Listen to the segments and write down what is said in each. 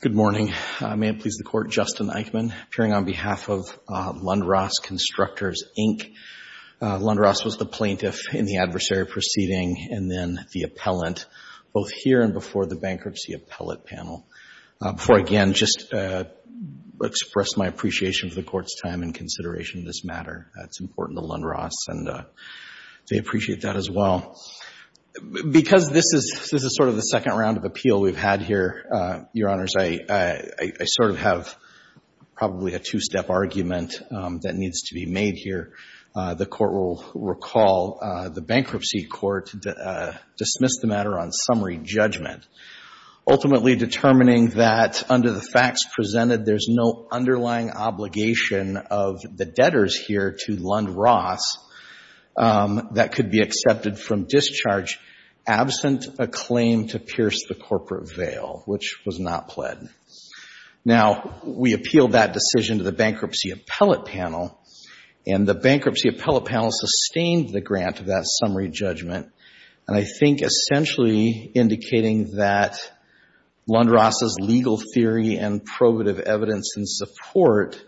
Good morning. May it please the Court, Justin Eichmann, appearing on behalf of Lund-Ross Constructors, Inc. Lund-Ross was the plaintiff in the adversary proceeding and then the appellant both here and before the bankruptcy appellate panel. Before I again just express my appreciation for the Court's time and consideration of this matter. That's important to Lund-Ross and they appreciate that as well. Because this is sort of the second round of appeal we've had here, Your Honors, I sort of have probably a two-step argument that needs to be made here. The Court will recall the bankruptcy court dismissed the matter on summary judgment, ultimately determining that under the facts presented there's no underlying obligation of the debtors here to Lund-Ross that could be accepted from discharge absent a claim to pierce the corporate veil, which was not pled. Now, we appealed that decision to the bankruptcy appellate panel and the bankruptcy appellate panel sustained the grant of that Lund-Ross's legal theory and probative evidence in support,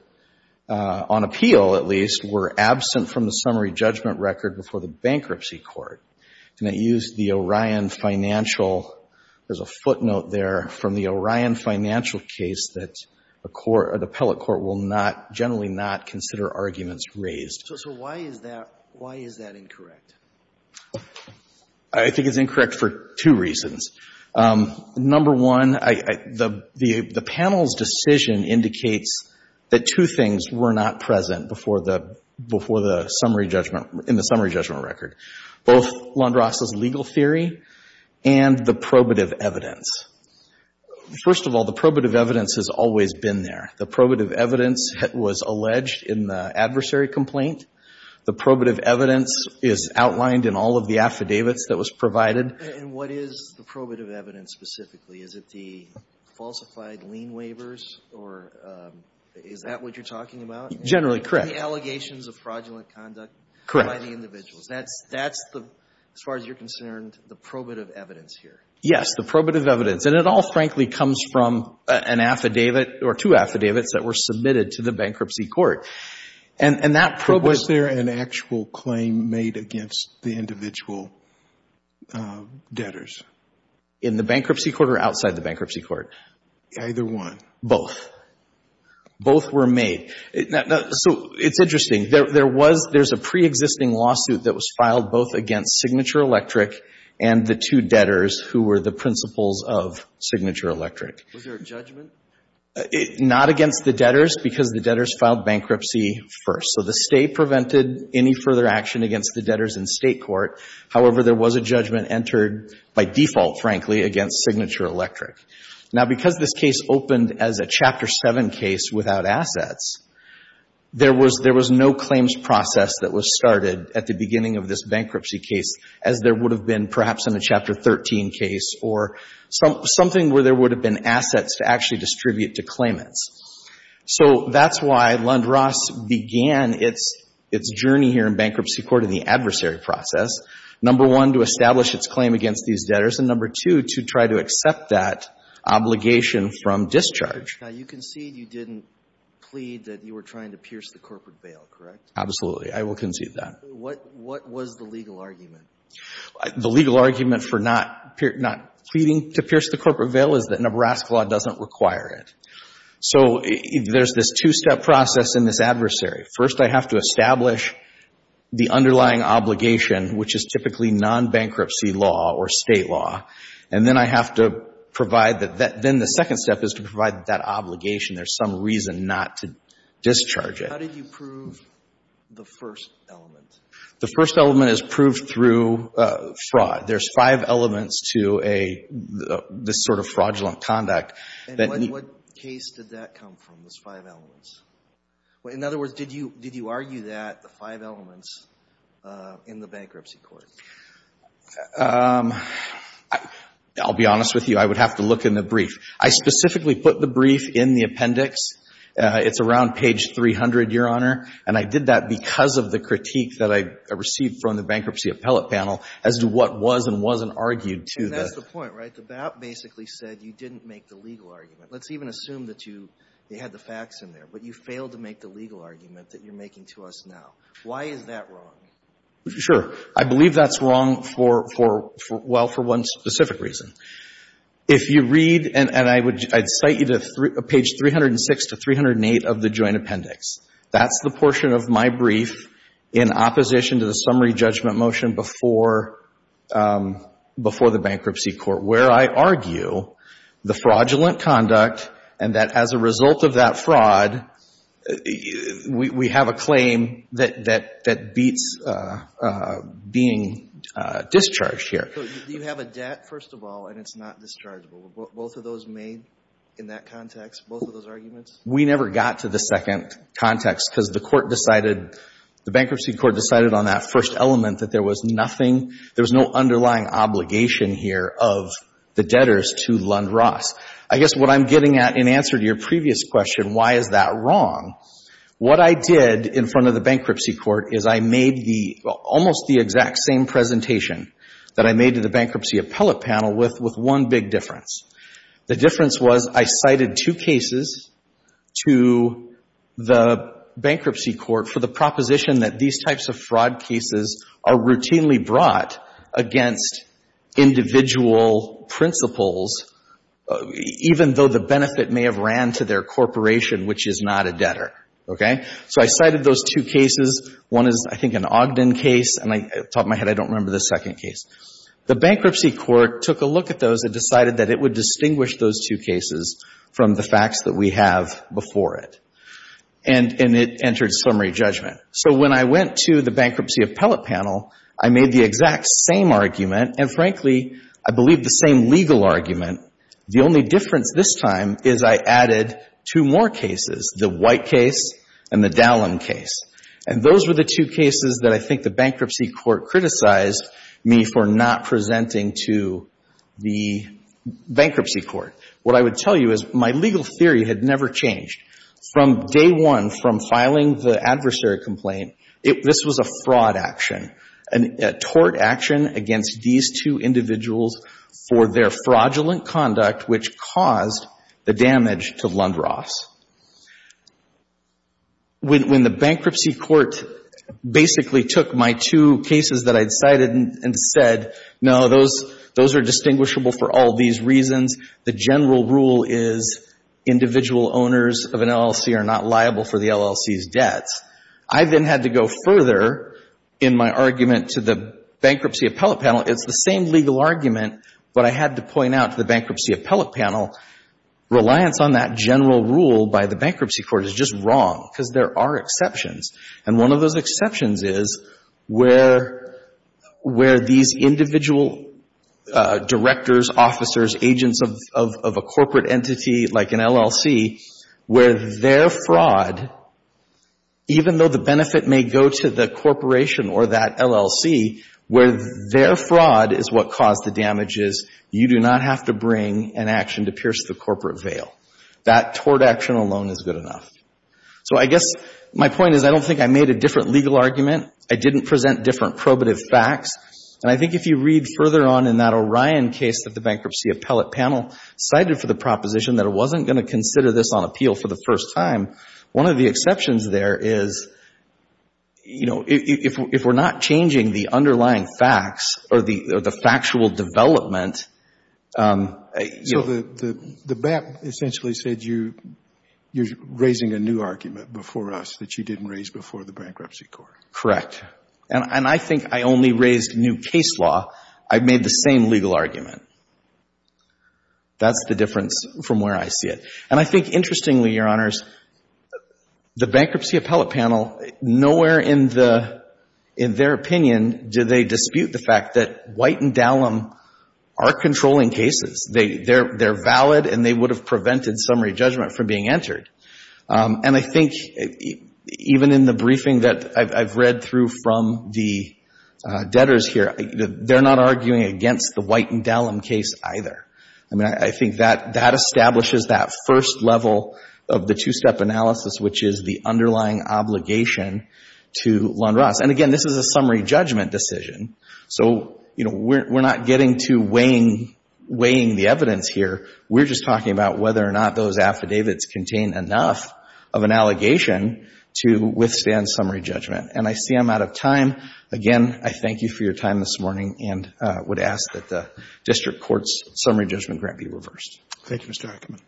on appeal at least, were absent from the summary judgment record before the bankruptcy court. And they used the Orion financial, there's a footnote there from the Orion financial case that a court, an appellate court will not, generally not consider arguments raised. So why is that, why is that incorrect? I think it's incorrect for two reasons. Number one, the panel's decision indicates that two things were not present before the, before the summary judgment, in the summary judgment record. Both Lund-Ross's legal theory and the probative evidence. First of all, the probative evidence has always been there. The probative evidence was alleged in the outlined, in all of the affidavits that was provided. And what is the probative evidence specifically? Is it the falsified lien waivers or is that what you're talking about? Generally correct. The allegations of fraudulent conduct by the individuals. That's, that's the, as far as you're concerned, the probative evidence here. Yes, the probative evidence. And it all frankly comes from an affidavit or two affidavits that were submitted to the bankruptcy court. And that probative evidence. Was there an actual claim made against the individual debtors? In the bankruptcy court or outside the bankruptcy court? Either one. Both. Both were made. So it's interesting. There, there was, there's a preexisting lawsuit that was filed both against Signature Electric and the two debtors who were the principals of Signature Electric. Was there a judgment? Not against the debtors because the debtors filed bankruptcy first. So the State prevented any further action against the debtors in State court. However, there was a judgment entered by default, frankly, against Signature Electric. Now because this case opened as a Chapter 7 case without assets, there was, there was no claims process that was started at the beginning of this bankruptcy case as there would have been perhaps in a Chapter 13 case or something where there would have been assets to actually distribute to claimants. So that's why Lund-Ross began its, its journey here in bankruptcy court in the adversary process. Number one, to establish its claim against these debtors. And number two, to try to accept that obligation from discharge. Now you concede you didn't plead that you were trying to pierce the corporate bail, correct? Absolutely. I will concede that. What, what was the legal argument? The legal argument for not, not pleading to pierce the corporate bail is that Nebraska law doesn't require it. So there's this two-step process in this adversary. First, I have to establish the underlying obligation, which is typically non-bankruptcy law or State law. And then I have to provide the, then the second step is to provide that obligation. There's some reason not to discharge it. How did you prove the first element? The first element is proved through fraud. There's five elements to a, this sort of fraudulent conduct. And when, what case did that come from, those five elements? In other words, did you, did you argue that the five elements in the bankruptcy court? I'll be honest with you. I would have to look in the brief. I specifically put the brief in the appendix. It's around page 300, Your Honor. And I did that because of the critique that I received from the bankruptcy appellate panel as to what was and wasn't argued to the That's the point, right? The BAP basically said you didn't make the legal argument. Let's even assume that you, they had the facts in there, but you failed to make the legal argument that you're making to us now. Why is that wrong? Sure. I believe that's wrong for, for, well, for one specific reason. If you read, and I would, I'd cite you to page 306 to 308 of the joint appendix. That's the portion of my brief in opposition to the summary judgment motion before, before the bankruptcy court, where I argue the fraudulent conduct and that as a result of that fraud, we, we have a claim that, that, that beats being discharged here. Do you have a debt, first of all, and it's not dischargeable? Were both of those made in that context, both of those arguments? We never got to the second context because the court decided, the bankruptcy court decided on that first element that there was nothing, there was no underlying obligation here of the debtors to Lund-Ross. I guess what I'm getting at in answer to your previous question, why is that wrong? What I did in front of the bankruptcy court is I made the, almost the exact same presentation that I made to the bankruptcy appellate panel with, with one big difference. The difference was I cited two cases to the bankruptcy court for the proposition that these types of fraud cases are routinely brought against individual principles, even though the benefit may have ran to their corporation, which is not a debtor. Okay? So I cited those two cases. One is, I think, an Ogden case, and I, off the top of my head, I don't remember the second case. The bankruptcy court took a look at those and decided that it would distinguish those two cases from the facts that we have before it. And, and it entered summary judgment. So when I went to the bankruptcy appellate panel, I made the exact same argument, and frankly, I believe the same legal argument. The only difference this time is I added two more cases, the White case and the Dallin case. And those were the two cases that I think the bankruptcy court criticized me for not presenting to the bankruptcy court. What I would tell you is my legal theory had never changed. From day one, from filing the adversary complaint, it, this was a fraud action, a tort action against these two individuals for their fraudulent conduct which caused the damage to Lundross. When, when the bankruptcy court basically took my two cases that I'd cited and, and said, no, those, those are distinguishable for all these reasons. The general rule is individual owners of an LLC are not liable for the LLC's debts. I then had to go further in my argument to the bankruptcy appellate panel. It's the same legal argument, but I had to point out to the bankruptcy appellate panel, reliance on that general rule by the bankruptcy court is just wrong, because there are exceptions. And one of those exceptions is where, where these individual directors, officers, agents of, of, of a corporate entity like an LLC, where their fraud, even though the benefit may go to the corporation or that LLC, where their fraud is what caused the damages, you do not have to bring an action to pierce the corporate veil. That tort action alone is good enough. So I guess my point is I don't think I made a different legal argument. I didn't present different probative facts. And I think if you read further on in that Orion case that the bankruptcy appellate panel cited for the proposition that it wasn't going to consider this on appeal for the first time, one of the exceptions there is, you know, if, if we're not changing the underlying facts or the, or the factual development, you know. The BAP essentially said you, you're raising a new argument before us that you didn't raise before the bankruptcy court. Correct. And I think I only raised new case law. I made the same legal argument. That's the difference from where I see it. And I think interestingly, Your Honors, the bankruptcy appellate panel, nowhere in the, in their opinion do they dispute the fact that White and Dallum are controlling cases. They, they're, they're valid and they would have prevented summary judgment from being entered. And I think even in the briefing that I've, I've read through from the debtors here, they're not arguing against the White and Dallum case either. I mean, I, I think that, that establishes that first level of the two-step analysis, which is the underlying obligation to Lund-Ross. And again, this is a summary judgment decision. So, you know, we're, we're not getting to weighing, weighing the evidence here. We're just talking about whether or not those affidavits contain enough of an allegation to withstand summary judgment. And I see I'm out of time. Again, I thank you for your time this morning and would ask that the district court's summary judgment grant be reversed. Thank you, Mr. Ackerman.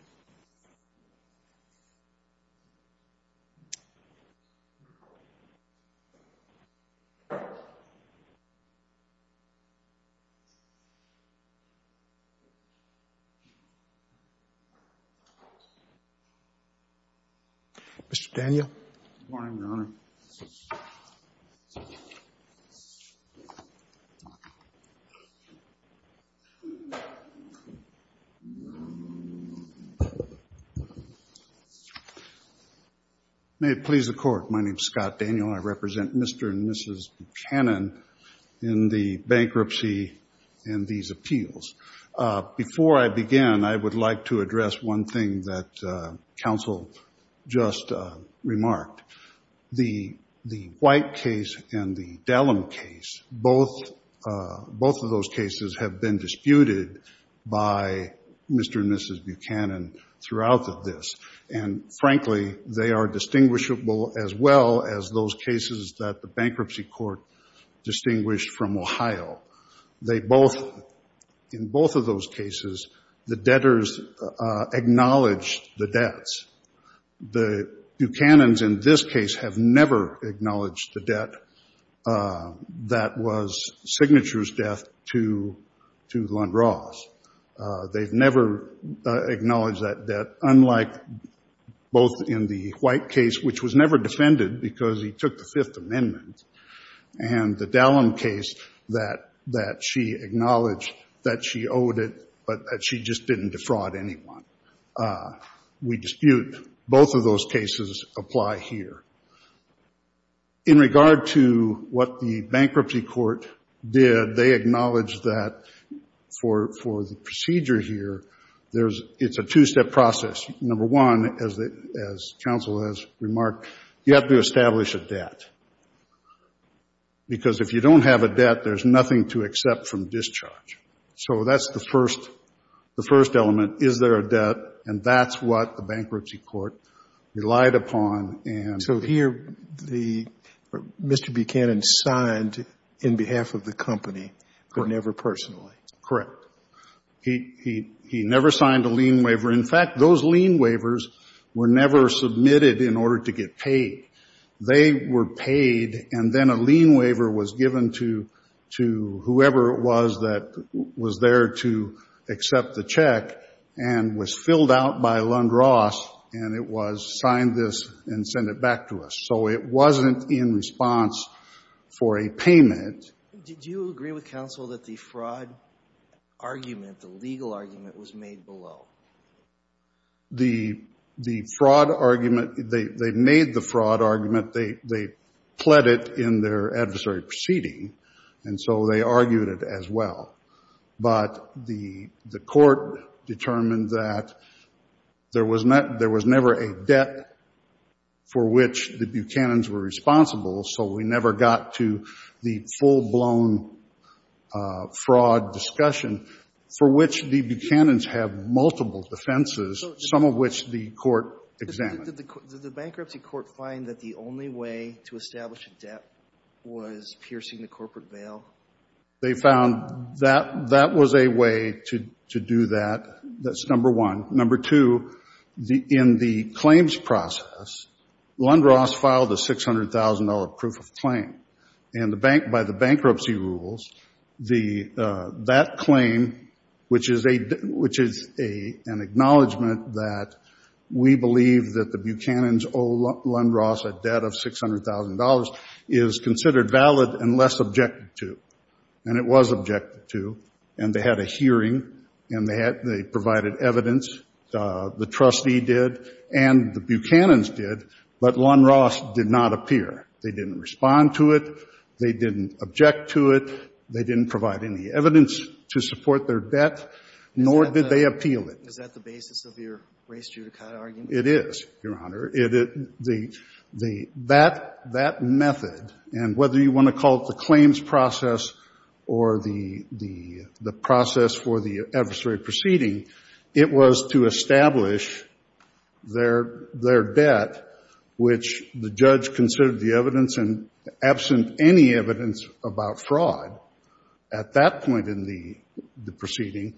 Mr. Daniel. Good morning, Your Honor. May it please the court. My name is Scott Daniel. I represent Mr. and Mrs. Cannon in the bankruptcy and these appeals. Before I begin, I would like to address one thing that counsel just remarked. The, the White case and the Dallum case, both, both of those cases have been disputed by Mr. and Mrs. Buchanan throughout this. And frankly, they are distinguishable as well as those cases that the bankruptcy court distinguished from Ohio. They both, in both of those cases, the debtors acknowledged the debts. The Buchanans in this case have never acknowledged the debt that was Signature's death to, to Lund-Ross. They've never acknowledged that debt, unlike both in the White case, which was never defended because he took the Fifth Amendment. And the Dallum case that, that she acknowledged that she owed it, but that she just didn't defraud anyone. We dispute both of those cases apply here. In regard to what the bankruptcy court did, they acknowledged that for, for the procedure here, there's, it's a two-step process. Number one, as the, as counsel has remarked, you have to establish a debt. Because if you don't have a debt, there's nothing to accept from discharge. So that's the first, the first element. Is there a debt? And that's what the bankruptcy court relied upon. And so here, the, Mr. Buchanan signed in behalf of the company, but never personally. Correct. He, he, he never signed a lien waiver. In fact, those lien waivers were never submitted in order to get paid. They were paid, and then a lien waiver was given to, to whoever it was that was there to accept the check and was filled out by Lund-Ross, and it was signed this and send it back to us. So it wasn't in response for a payment. Did you agree with counsel that the fraud argument, the legal argument was made below? The, the fraud argument, they, they made the fraud argument. They, they pled it in their adversary proceeding, and so they argued it as well. But the, the court determined that there was not, there was never a debt for which the Buchanan's have multiple defenses, some of which the court examined. Did the bankruptcy court find that the only way to establish a debt was piercing the corporate bail? They found that, that was a way to, to do that. That's number one. Number two, the, in the claims process, Lund-Ross filed a $600,000 proof of claim. And the bank, by the bankruptcy rules, the, that claim, which is a, which is a, an acknowledgment that we believe that the Buchanan's owe Lund-Ross a debt of $600,000 is considered valid unless objected to. And it was objected to, and they had a hearing, and they had, they provided evidence, the trustee did, and the Buchanan's did, but Lund-Ross did not appear. They didn't respond to it. They didn't object to it. They didn't provide any evidence to support their debt, nor did they appeal it. Is that the basis of your race judicata argument? It is, Your Honor. It, it, the, the, that, that method, and whether you want to call it the claims process or the, the, the process for the adversary proceeding, it was to establish their, their debt, which the judge considered the evidence, and absent any evidence about fraud, at that point in the, the proceeding,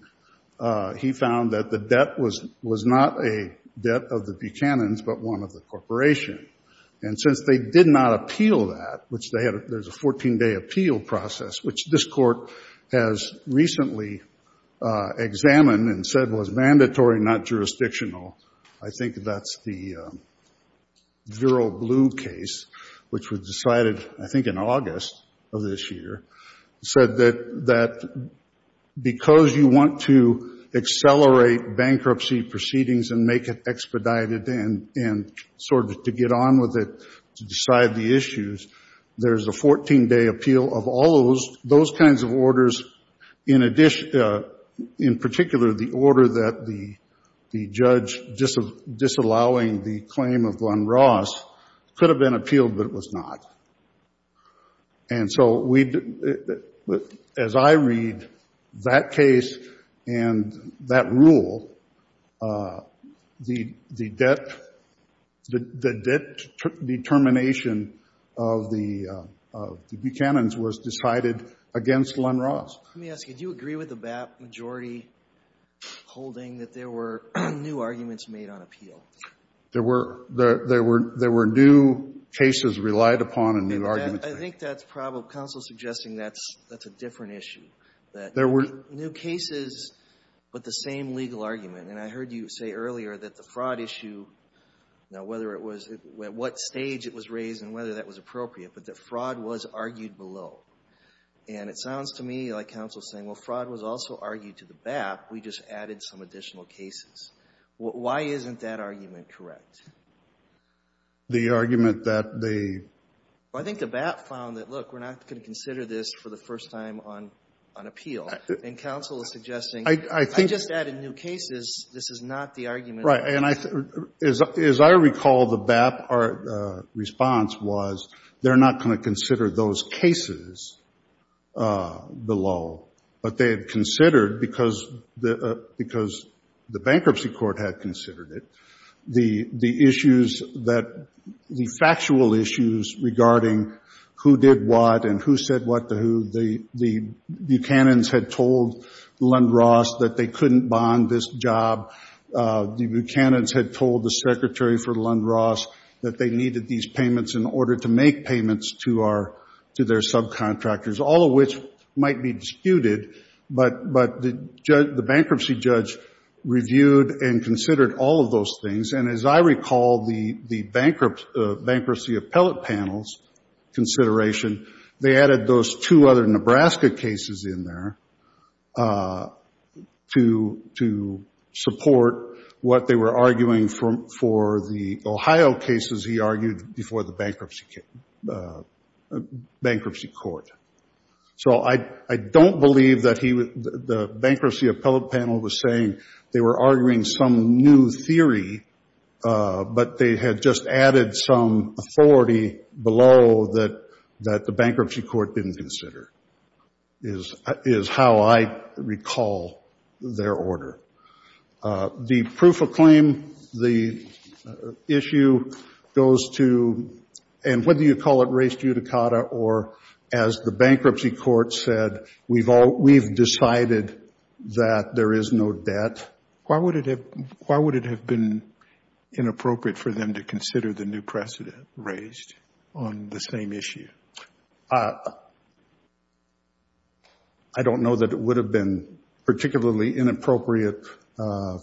he found that the debt was, was not a debt of the Buchanan's, but one of the corporation. And since they did not appeal that, which they had, there's a 14-day appeal process, which this Court has recently examined and said was mandatory, not jurisdictional. I think that's the zero blue case, which was decided, I think, in August of this year, said that, that because you want to accelerate bankruptcy proceedings and make it expedited and, and sort of to get on with it, to decide the issues, there's a 14-day appeal of all those, those kinds of orders, in addition, in particular, the order that the, the judge dis, disallowing the claim of Lund-Ross could have been appealed, but it was not. And so we, as I read that case and that rule, the, the debt, the, the debt determination of the, of the Buchanan's was decided against Lund-Ross. Let me ask you, do you agree with the BAP majority holding that there were new arguments made on appeal? There were, there, there were, there were new cases relied upon and new arguments made. I think that's probable. Counsel is suggesting that's, that's a different issue. There were New cases, but the same legal argument. And I heard you say earlier that the fraud issue, now whether it was, at what stage it was raised and whether that was appropriate, but that fraud was argued below. And it sounds to me like counsel's saying, well, fraud was also argued to the BAP, we just added some additional cases. Why isn't that argument correct? The argument that the Well, I think the BAP found that, look, we're not going to consider this for the first time on, on appeal. And counsel is suggesting I, I think I just added new cases. This is not the argument Right. And I, as, as I recall, the BAP, our response was they're not going to consider those cases below. But they had considered, because the, because the bankruptcy court had considered it, the, the issues that, the factual issues regarding who did what and who said what to who, the, the Buchanan's had told Lundross that they couldn't bond this job. The Buchanan's had told the secretary for Lundross that they needed these payments in order to make payments to our, to their subcontractors, all of which might be disputed. But, but the judge, the bankruptcy judge reviewed and considered all of those things. And as I recall, the, the bankrupt, bankruptcy appellate panels consideration, they added those two other Nebraska cases in there to, to support what they were arguing for, for the Ohio cases he argued before the bankruptcy, bankruptcy court. So I, I don't believe that he, the bankruptcy appellate panel was saying they were arguing some new theory, but they had just added some authority below that, that the bankruptcy court didn't consider, is, is how I recall their order. The proof of claim, the issue goes to, and whether you call it res judicata or as the bankruptcy court said, we've all, we've decided that there is no debt. Why would it have, why would it have been inappropriate for them to consider the new precedent raised on the same issue? I don't know that it would have been particularly inappropriate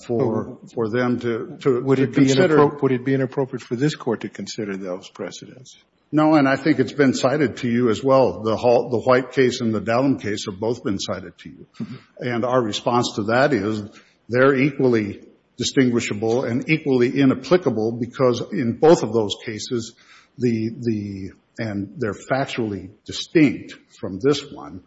for, for them to, to consider. Would it be inappropriate for this court to consider those precedents? No, and I think it's been cited to you as well. The, the White case and the Dalham case have both been cited to you. And our response to that is they're equally distinguishable and equally inapplicable because in both of those cases, the, the, and they're factually distinct from this one.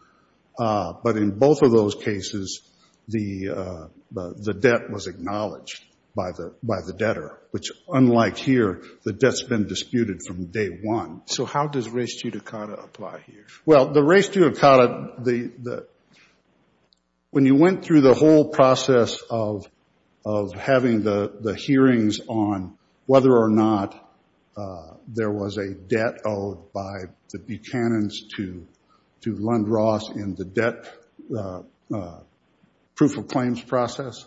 But in both of those cases, the, the debt was acknowledged by the, by the debtor, which unlike here, the debt's been disputed from day one. So how does res judicata apply here? Well, the res judicata, the, the, when you went through the whole process of, of having the, the hearings on whether or not there was a debt owed by the Buchanan's to, to Lund-Ross in the debt proof of claims process,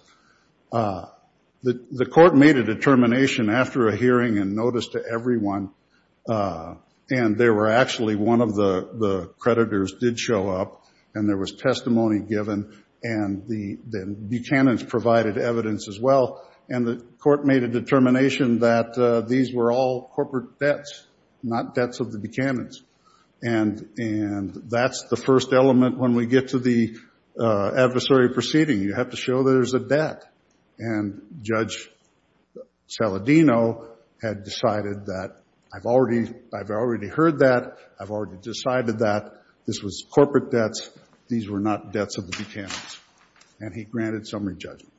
the, the court made a determination after a hearing and notice to everyone. And there were actually one of the, the creditors did show up and there was testimony given and the, the Buchanan's provided evidence as well. And the court made a determination that these were all corporate debts, not debts of the Buchanan's. And, and that's the first element when we get to the adversary proceeding. You have to show that there's a debt. And Judge Saladino had decided that, I've already, I've already heard that. I've already decided that this was corporate debts. These were not debts of the Buchanan's. And he granted summary judgment.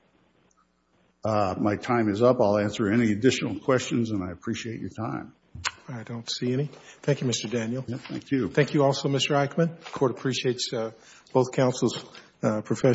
My time is up. I'll answer any additional questions and I appreciate your time. I don't see any. Thank you, Mr. Daniel. Thank you. Thank you also, Mr. Eichmann. The court appreciates both counsel's profession.